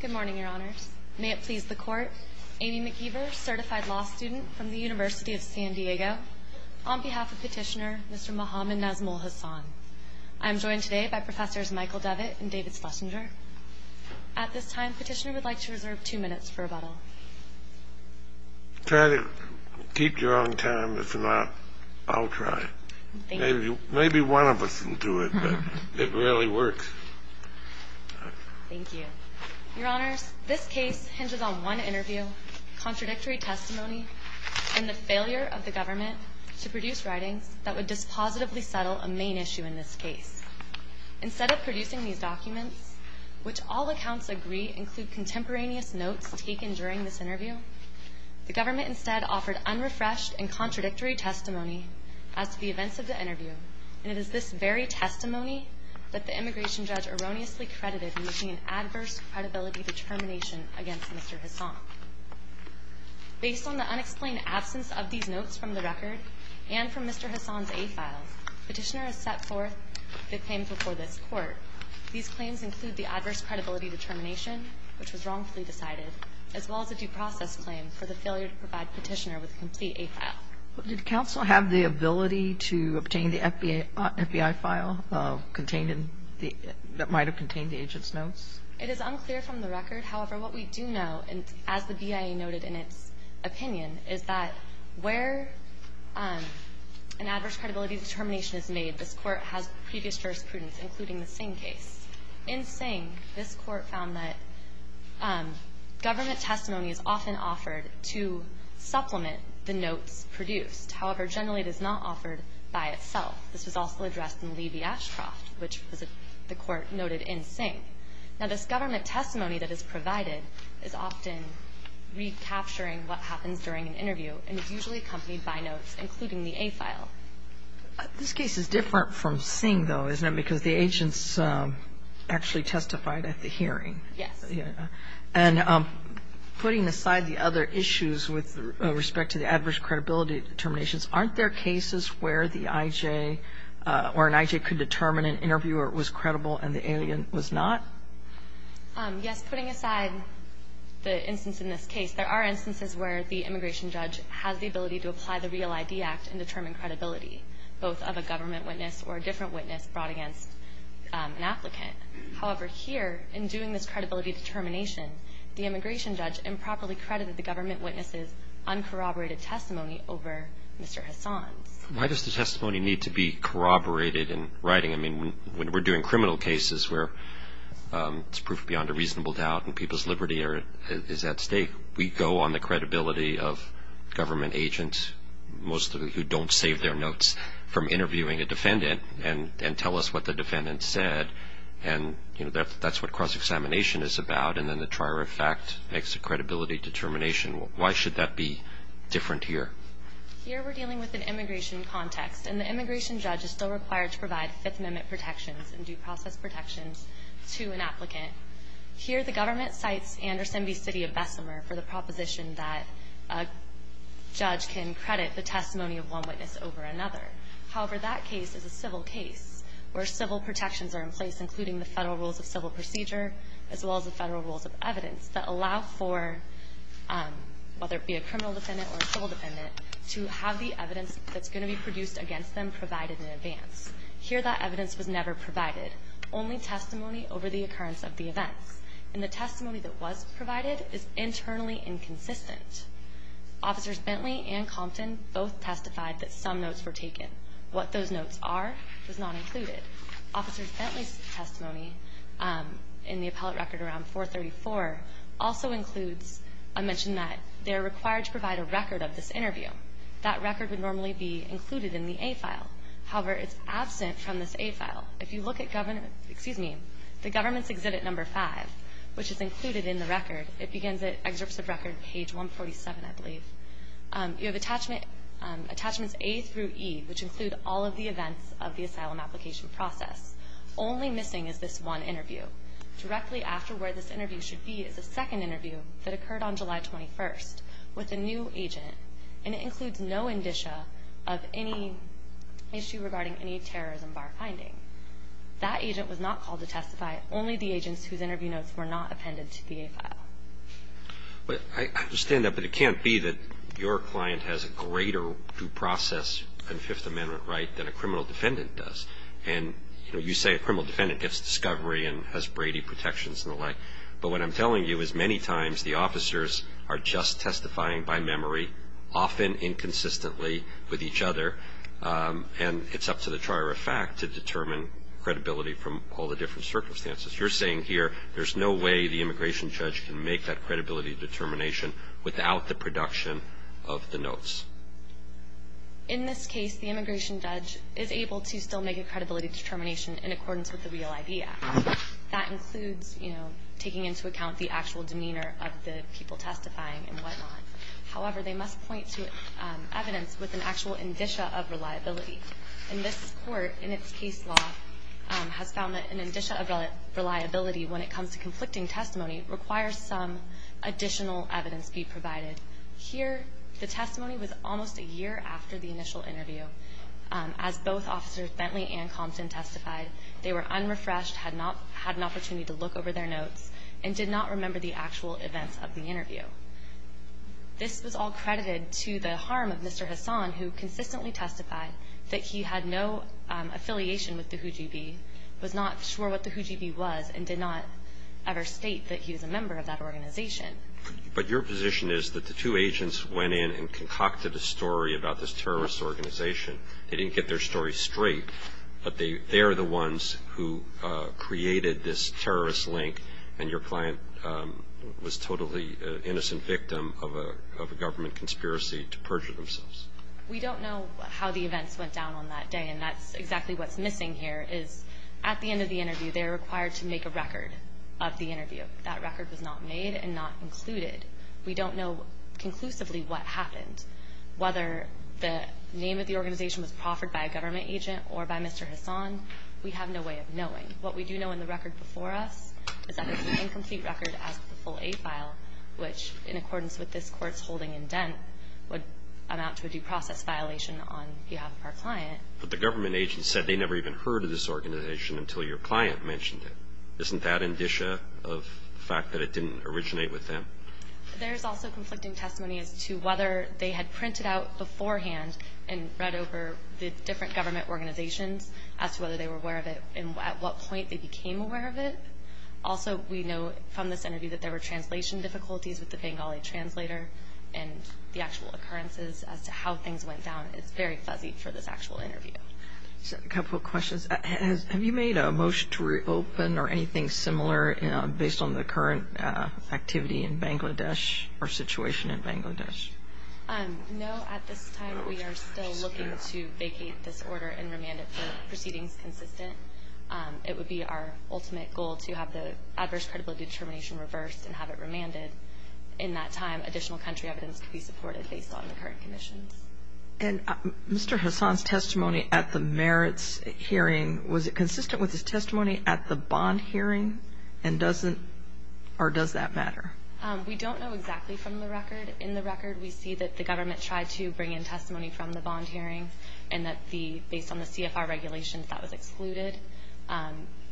Good morning, Your Honors. May it please the Court, Amy McGeever, certified law student from the University of San Diego, on behalf of Petitioner, Mr. Mohammad Nazmul Hasan. I am joined today by Professors Michael Devitt and David Schlesinger. At this time, Petitioner would like to reserve two minutes for rebuttal. Try to keep your own time, if not, I'll try. Maybe one of us can do it, but it rarely works. Thank you. Your Honors, this case hinges on one interview, contradictory testimony, and the failure of the government to produce writings that would dispositively settle a main issue in this case. Instead of producing these documents, which all accounts agree include contemporaneous notes taken during this interview, the government instead offered unrefreshed and contradictory testimony as to the events of the interview. And it is this very testimony that the immigration judge erroneously credited in making an adverse credibility determination against Mr. Hasan. Based on the unexplained absence of these notes from the record and from Mr. Hasan's A-files, Petitioner has set forth the claims before this Court. These claims include the adverse credibility determination, which was wrongfully decided, as well as a due process claim for the failure to provide Petitioner with a complete A-file. Did counsel have the ability to obtain the FBI file that might have contained the agent's notes? It is unclear from the record. However, what we do know, as the BIA noted in its opinion, is that where an adverse credibility determination is made, this Court has previous jurisprudence, including the Singh case. In Singh, this Court found that government testimony is often offered to supplement the notes produced. However, generally it is not offered by itself. This was also addressed in Lee v. Ashcroft, which the Court noted in Singh. Now, this government testimony that is provided is often recapturing what happens during an interview, and is usually accompanied by notes, including the A-file. This case is different from Singh, though, isn't it? Because the agents actually testified at the hearing. Yes. And putting aside the other issues with respect to the adverse credibility determinations, aren't there cases where the I.J. or an I.J. could determine an interviewer was credible and the alien was not? Yes. Putting aside the instance in this case, there are instances where the immigration judge has the ability to apply the REAL-ID Act and determine credibility, both of a government witness or a different witness brought against an applicant. However, here, in doing this credibility determination, the immigration judge improperly credited the government witness's uncorroborated testimony over Mr. Hassan's. Why does the testimony need to be corroborated in writing? I mean, when we're doing criminal cases where it's proof beyond a reasonable doubt and people's liberty is at stake, we go on the credibility of government agents, most of whom don't save their notes from interviewing a defendant and tell us what the defendant said, and that's what cross-examination is about, and then the trier of fact makes a credibility determination. Why should that be different here? Here, we're dealing with an immigration context, and the immigration judge is still required to provide Fifth Amendment protections and due process protections to an applicant. Here, the government cites Anderson v. City of Bessemer for the proposition that a judge can credit the testimony of one witness over another. However, that case is a civil case where civil protections are in place, including the Federal Rules of Civil Procedure as well as the Federal Rules of Evidence, that allow for, whether it be a criminal defendant or a civil defendant, to have the evidence that's going to be produced against them provided in advance. Here, that evidence was never provided. Only testimony over the occurrence of the events, and the testimony that was provided is internally inconsistent. Officers Bentley and Compton both testified that some notes were taken. What those notes are was not included. Officers Bentley's testimony in the appellate record around 434 also includes a mention that they're required to provide a record of this interview. That record would normally be included in the A file. However, it's absent from this A file. If you look at government, excuse me, the government's exhibit number five, which is included in the record, it begins at excerpts of record page 147, I believe. You have attachments A through E, which include all of the events of the asylum application process. Only missing is this one interview. Directly after where this interview should be is a second interview that occurred on July 21st with a new agent, and it includes no indicia of any issue regarding any terrorism bar finding. That agent was not called to testify. Only the agents whose interview notes were not appended to the A file. But I understand that, but it can't be that your client has a greater due process and Fifth Amendment right than a criminal defendant does. And, you know, you say a criminal defendant gets discovery and has Brady protections and the like. But what I'm telling you is many times the officers are just testifying by memory, often inconsistently with each other, and it's up to the trier of fact to determine credibility from all the different circumstances. You're saying here there's no way the immigration judge can make that credibility determination without the production of the notes. In this case, the immigration judge is able to still make a credibility determination in accordance with the Real ID Act. That includes, you know, taking into account the actual demeanor of the people testifying and whatnot. However, they must point to evidence with an actual indicia of reliability. And this court in its case law has found that an indicia of reliability when it comes to conflicting testimony requires some additional evidence be provided. Here, the testimony was almost a year after the initial interview. As both Officers Bentley and Compton testified, they were unrefreshed, had not had an opportunity to look over their notes, and did not remember the actual events of the interview. This was all credited to the harm of Mr. Hassan, who consistently testified that he had no affiliation with the Hujiby, was not sure what the Hujiby was, and did not ever state that he was a member of that organization. But your position is that the two agents went in and concocted a story about this terrorist organization. They didn't get their story straight, but they are the ones who created this terrorist link, and your client was totally an innocent victim of a government conspiracy to perjure themselves. We don't know how the events went down on that day, and that's exactly what's missing here, is at the end of the interview they're required to make a record of the interview. That record was not made and not included. We don't know conclusively what happened. Whether the name of the organization was proffered by a government agent or by Mr. Hassan, we have no way of knowing. What we do know in the record before us is that there's an incomplete record as to the full A file, which in accordance with this court's holding indent would amount to a due process violation on behalf of our client. But the government agent said they never even heard of this organization until your client mentioned it. Isn't that indicia of the fact that it didn't originate with them? There's also conflicting testimony as to whether they had printed out beforehand and read over the different government organizations as to whether they were aware of it and at what point they became aware of it. Also, we know from this interview that there were translation difficulties with the Bengali translator and the actual occurrences as to how things went down is very fuzzy for this actual interview. A couple of questions. Have you made a motion to reopen or anything similar based on the current activity in Bangladesh or situation in Bangladesh? No. At this time, we are still looking to vacate this order and remand it for proceedings consistent. It would be our ultimate goal to have the adverse credibility determination reversed and have it remanded. In that time, additional country evidence could be supported based on the current conditions. Mr. Hassan's testimony at the merits hearing, was it consistent with his testimony at the bond hearing? Or does that matter? We don't know exactly from the record. In the record, we see that the government tried to bring in testimony from the bond hearing and that based on the CFR regulations, that was excluded.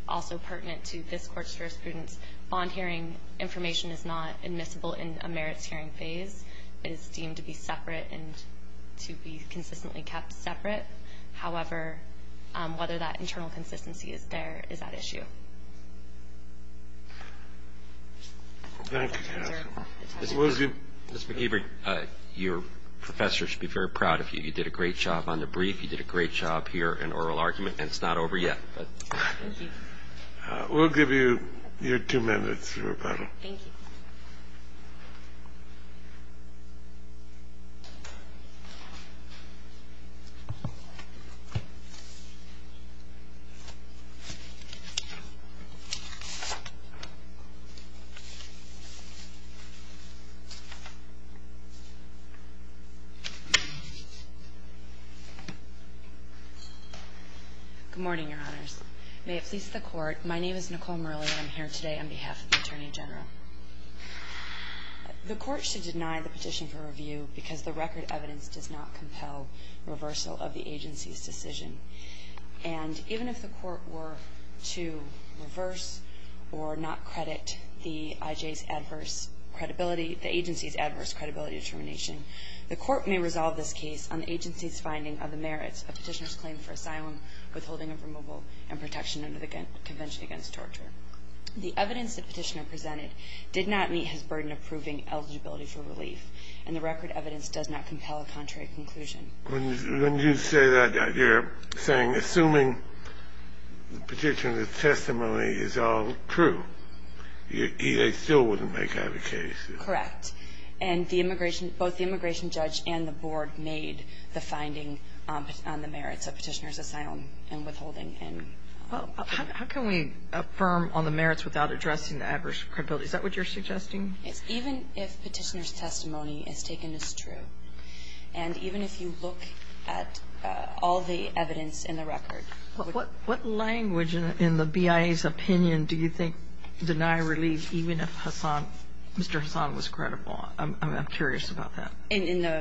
Also pertinent to this Court's jurisprudence, bond hearing information is not admissible in a merits hearing phase. It is deemed to be separate and to be consistently kept separate. However, whether that internal consistency is there is at issue. Thank you, Cassie. Ms. McIver, your professor should be very proud of you. You did a great job on the brief. You did a great job here in oral argument, and it's not over yet. Thank you. We'll give you your two minutes to rebuttal. Thank you. Good morning, Your Honors. May it please the Court, my name is Nicole Murley, and I'm here today on behalf of the Attorney General. The Court should deny the petition for review because the record evidence does not compel reversal of the agency's decision. And even if the Court were to reverse or not credit the IJ's adverse credibility, the agency's adverse credibility determination, the Court may resolve this case on the agency's finding of the merits of petitioner's claim for asylum, withholding of removal, and protection under the Convention Against Torture. The evidence the petitioner presented did not meet his burden of proving eligibility for relief, and the record evidence does not compel a contrary conclusion. When you say that, you're saying, assuming the petitioner's testimony is all true, the IJ still wouldn't make that a case. Correct. And the immigration – both the immigration judge and the board made the finding on the merits of petitioner's asylum and withholding. How can we affirm on the merits without addressing the adverse credibility? Is that what you're suggesting? Even if petitioner's testimony is taken as true, and even if you look at all the evidence in the record. What language in the BIA's opinion do you think deny relief even if Mr. Hassan was credible? I'm curious about that. In the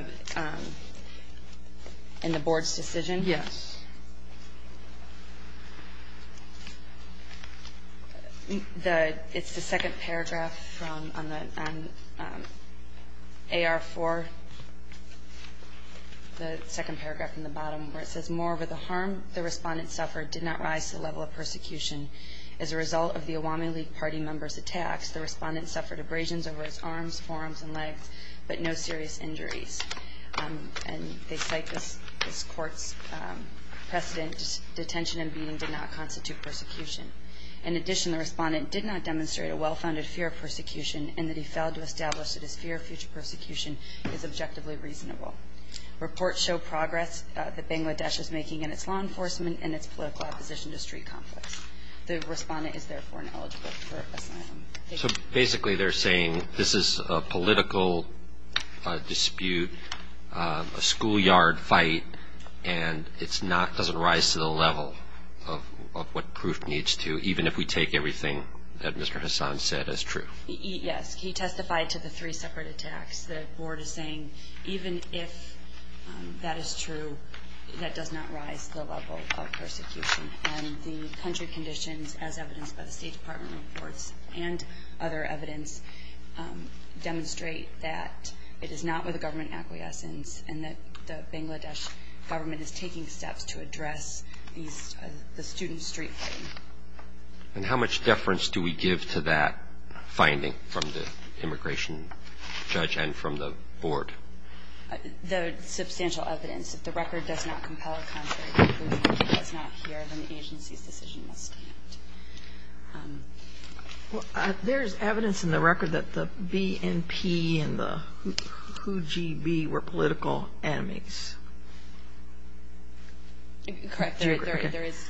board's decision? Yes. It's the second paragraph on AR4, the second paragraph in the bottom, where it says, moreover, the harm the respondent suffered did not rise to the level of persecution. As a result of the Awami League party members' attacks, the respondent suffered abrasions over his arms, forearms, and legs, but no serious injuries. And they cite this court's precedent, detention and beating did not constitute persecution. In addition, the respondent did not demonstrate a well-founded fear of persecution and that he failed to establish that his fear of future persecution is objectively reasonable. Reports show progress that Bangladesh is making in its law enforcement and its political opposition to street conflicts. The respondent is, therefore, ineligible for asylum. So basically they're saying this is a political dispute, a schoolyard fight, and it doesn't rise to the level of what proof needs to, even if we take everything that Mr. Hassan said as true. Yes. He testified to the three separate attacks. The board is saying even if that is true, that does not rise to the level of persecution. And the country conditions, as evidenced by the State Department reports and other evidence, demonstrate that it is not with a government acquiescence and that the Bangladesh government is taking steps to address the student street fighting. And how much deference do we give to that finding from the immigration judge and from the board? There is substantial evidence. If the record does not compel a country to prove that he was not here, then the agency's decision must stand. There is evidence in the record that the BNP and the Hujib were political enemies. Correct. There is.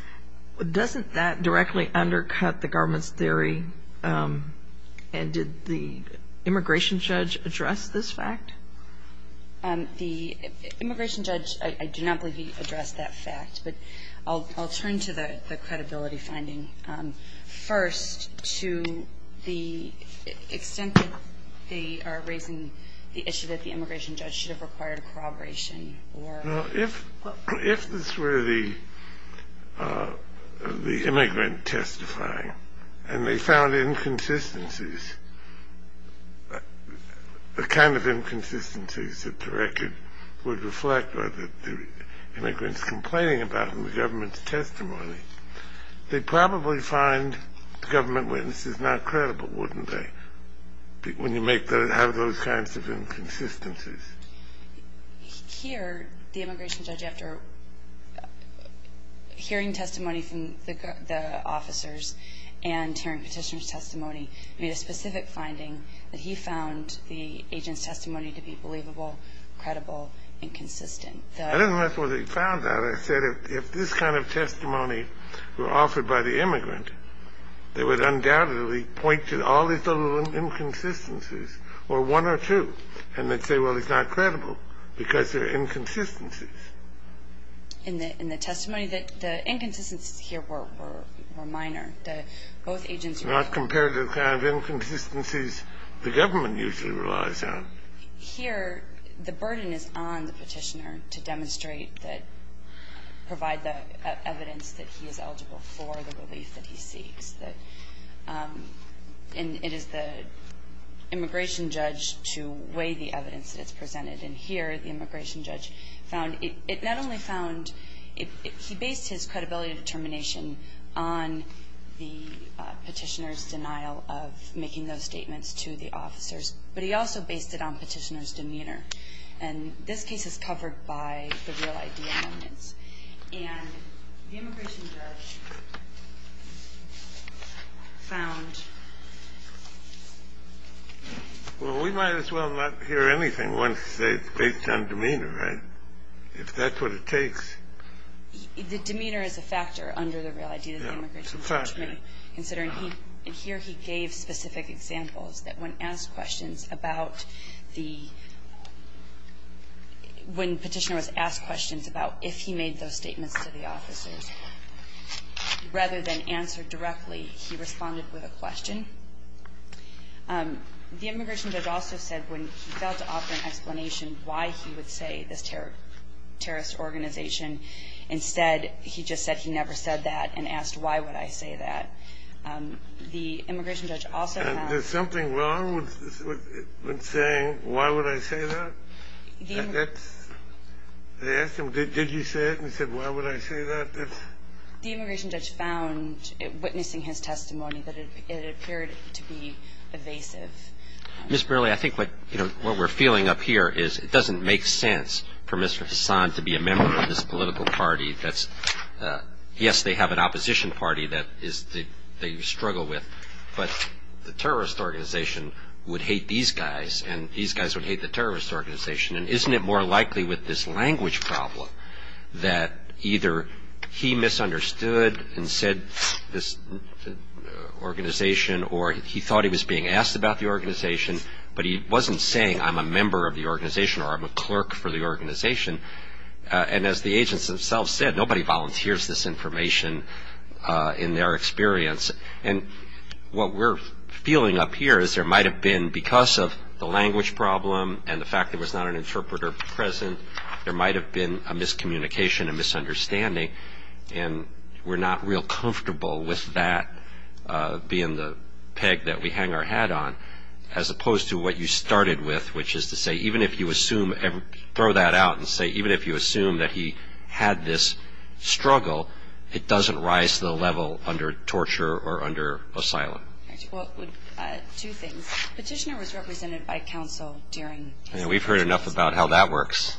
Doesn't that directly undercut the government's theory? And did the immigration judge address this fact? The immigration judge, I do not believe he addressed that fact. But I'll turn to the credibility finding. First, to the extent that they are raising the issue that the immigration judge should have required corroboration. If this were the immigrant testifying and they found inconsistencies, the kind of inconsistencies that the record would reflect, or the immigrants complaining about in the government's testimony, they'd probably find the government witnesses not credible, wouldn't they? When you have those kinds of inconsistencies. Here, the immigration judge, after hearing testimony from the officers and hearing petitioner's testimony, made a specific finding that he found the agent's testimony to be believable, credible, and consistent. I don't know if he found that. I said if this kind of testimony were offered by the immigrant, they would undoubtedly point to all these inconsistencies, or one or two, and they'd say, well, he's not credible, because there are inconsistencies. In the testimony, the inconsistencies here were minor. Both agents... Not compared to the kind of inconsistencies the government usually relies on. Here, the burden is on the petitioner to demonstrate that, provide the evidence that he is eligible for the relief that he seeks. And it is the immigration judge to weigh the evidence that's presented. And here, the immigration judge found, it not only found, he based his credibility determination on the petitioner's denial of making those statements to the officers, but he also based it on petitioner's demeanor. And this case is covered by the real ID amendments. And the immigration judge found... Well, we might as well not hear anything once they've based it on demeanor, right? If that's what it takes. The demeanor is a factor under the real ID that the immigration judge made... Yeah, it's a factor. ...considering here he gave specific examples that when asked questions about the when petitioner was asked questions about if he made those statements to the officers, rather than answer directly, he responded with a question. The immigration judge also said when he failed to offer an explanation why he would say this terrorist organization, instead he just said he never said that and asked why would I say that. The immigration judge also found... Is there something wrong with saying why would I say that? They asked him, did you say it? And he said, why would I say that? The immigration judge found, witnessing his testimony, that it appeared to be evasive. Ms. Burleigh, I think what we're feeling up here is it doesn't make sense for Mr. Hassan to be a member of this political party. Yes, they have an opposition party that they struggle with, but the terrorist organization would hate these guys and these guys would hate the terrorist organization. And isn't it more likely with this language problem that either he misunderstood and said this organization or he thought he was being asked about the organization, but he wasn't saying I'm a member of the organization or I'm a clerk for the organization. And as the agents themselves said, nobody volunteers this information in their experience. And what we're feeling up here is there might have been, because of the language problem and the fact there was not an interpreter present, there might have been a miscommunication, a misunderstanding, and we're not real comfortable with that being the peg that we hang our hat on, as opposed to what you started with, which is to say even if you assume, throw that out and say even if you assume that he had this struggle, it doesn't rise to the level under torture or under asylum. Well, two things. Petitioner was represented by counsel during his interview. We've heard enough about how that works.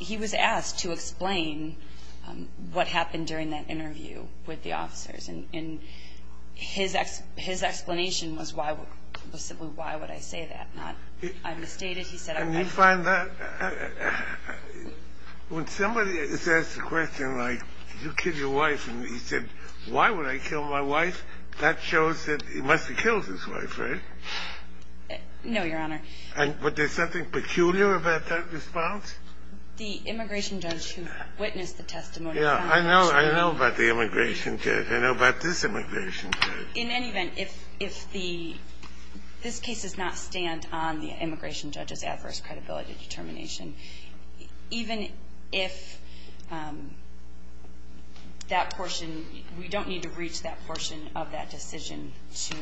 He was asked to explain what happened during that interview with the officers, and his explanation was simply why would I say that, not I misstated. Can you find that? When somebody is asked a question like, did you kill your wife, and he said, why would I kill my wife, that shows that he must have killed his wife, right? No, Your Honor. But there's something peculiar about that response? The immigration judge who witnessed the testimony found it strange. Yeah, I know about the immigration judge. I know about this immigration judge. In any event, if this case does not stand on the immigration judge's adverse credibility determination, even if that portion, we don't need to reach that portion of that decision to,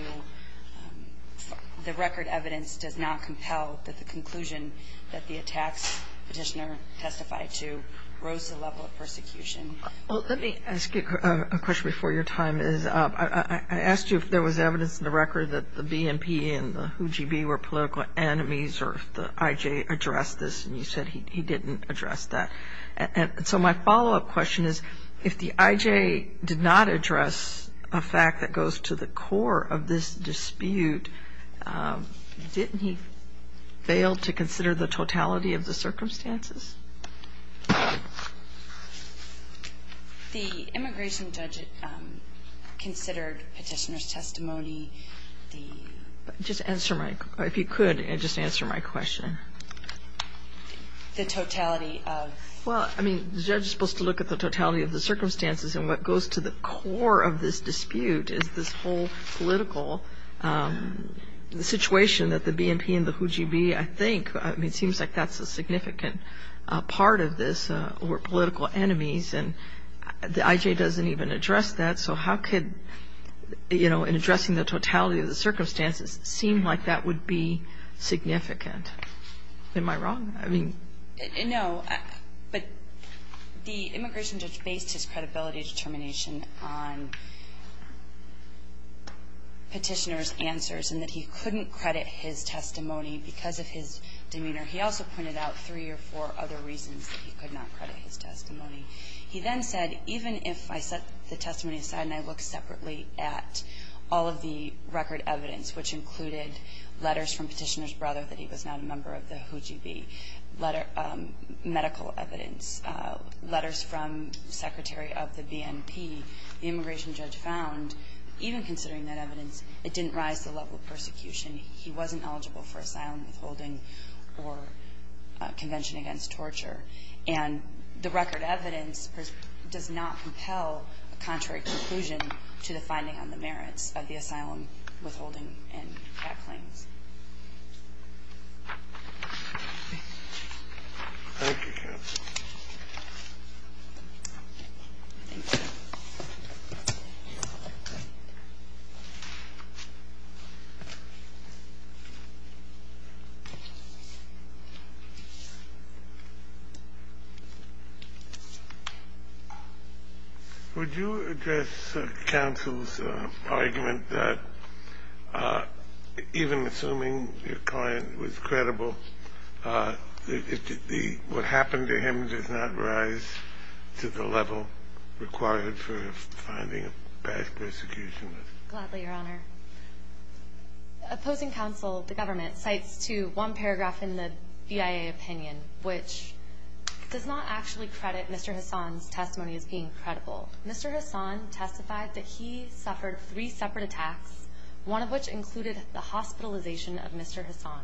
the record evidence does not compel that the conclusion that the attacks petitioner testified to rose to the level of persecution. Well, let me ask you a question before your time is up. I asked you if there was evidence in the record that the BNP and the WHO GB were political enemies or if the IJ addressed this, and you said he didn't address that. And so my follow-up question is, if the IJ did not address a fact that goes to the core of this dispute, didn't he fail to consider the totality of the circumstances? The immigration judge considered petitioner's testimony. Just answer my, if you could, just answer my question. The totality of? Well, I mean, the judge is supposed to look at the totality of the circumstances, and what goes to the core of this dispute is this whole political situation that the BNP and the WHO GB, I think, I mean, it seems like that's a significant part of this, were political enemies, and the IJ doesn't even address that. So how could, you know, in addressing the totality of the circumstances seem like that would be significant? Am I wrong? I mean, no. But the immigration judge based his credibility determination on petitioner's answers and that he couldn't credit his testimony because of his demeanor. He also pointed out three or four other reasons that he could not credit his testimony. He then said, even if I set the testimony aside and I look separately at all of the record evidence, which included letters from petitioner's brother that he was not a member of the WHO GB, medical evidence, letters from Secretary of the BNP, the immigration judge found, even considering that evidence, it didn't rise to the level of persecution. He wasn't eligible for asylum withholding or convention against torture. And the record evidence does not compel a contrary conclusion to the finding on the merits of the asylum withholding and that claim. Thank you, counsel. Thank you. Thank you. Would you address counsel's argument that even assuming your client was credible, what happened to him does not rise to the level required for finding a bad persecution? Gladly, Your Honor. Opposing counsel, the government, cites to one paragraph in the BIA opinion, which does not actually credit Mr. Hassan's testimony as being credible. Mr. Hassan testified that he suffered three separate attacks, one of which included the hospitalization of Mr. Hassan.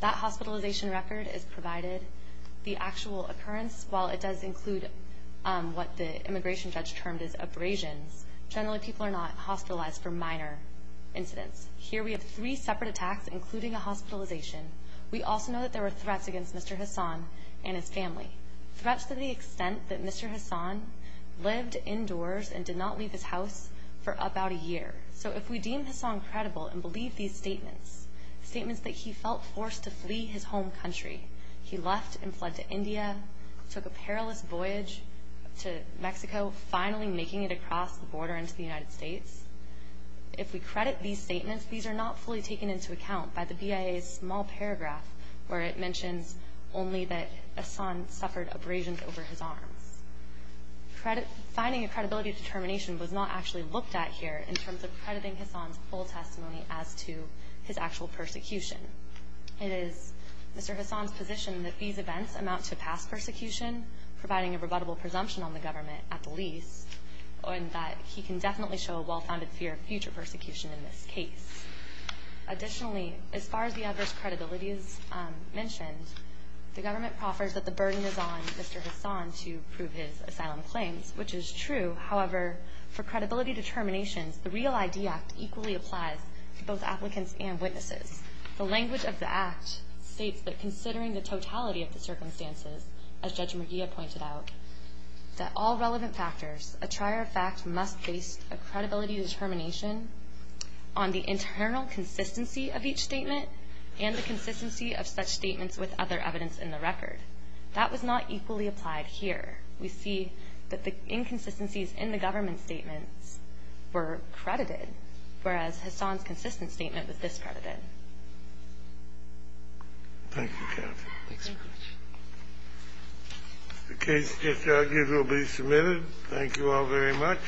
That hospitalization record is provided. The actual occurrence, while it does include what the immigration judge termed as abrasions, generally people are not hospitalized for minor incidents. Here we have three separate attacks, including a hospitalization. We also know that there were threats against Mr. Hassan and his family, threats to the extent that Mr. Hassan lived indoors and did not leave his house for about a year. So if we deem Hassan credible and believe these statements, statements that he felt forced to flee his home country, he left and fled to India, took a perilous voyage to Mexico, finally making it across the border into the United States, if we credit these statements, these are not fully taken into account by the BIA's small paragraph where it mentions only that Hassan suffered abrasions over his arms. Finding a credibility determination was not actually looked at here in terms of crediting Hassan's full testimony as to his actual persecution. It is Mr. Hassan's position that these events amount to past persecution, providing a rebuttable presumption on the government at the least, and that he can definitely show a well-founded fear of future persecution in this case. Additionally, as far as the adverse credibility is mentioned, the government proffers that the burden is on Mr. Hassan to prove his asylum claims, which is true. However, for credibility determinations, the REAL ID Act equally applies to both applicants and witnesses. The language of the Act states that considering the totality of the circumstances, as Judge McGeeh pointed out, that all relevant factors, a trier of fact, must base a credibility determination on the internal consistency of each statement and the consistency of such statements with other evidence in the record. That was not equally applied here. We see that the inconsistencies in the government's statements were credited, whereas Hassan's consistent statement was discredited. Thank you, Kathy. The case just argued will be submitted. Thank you all very much.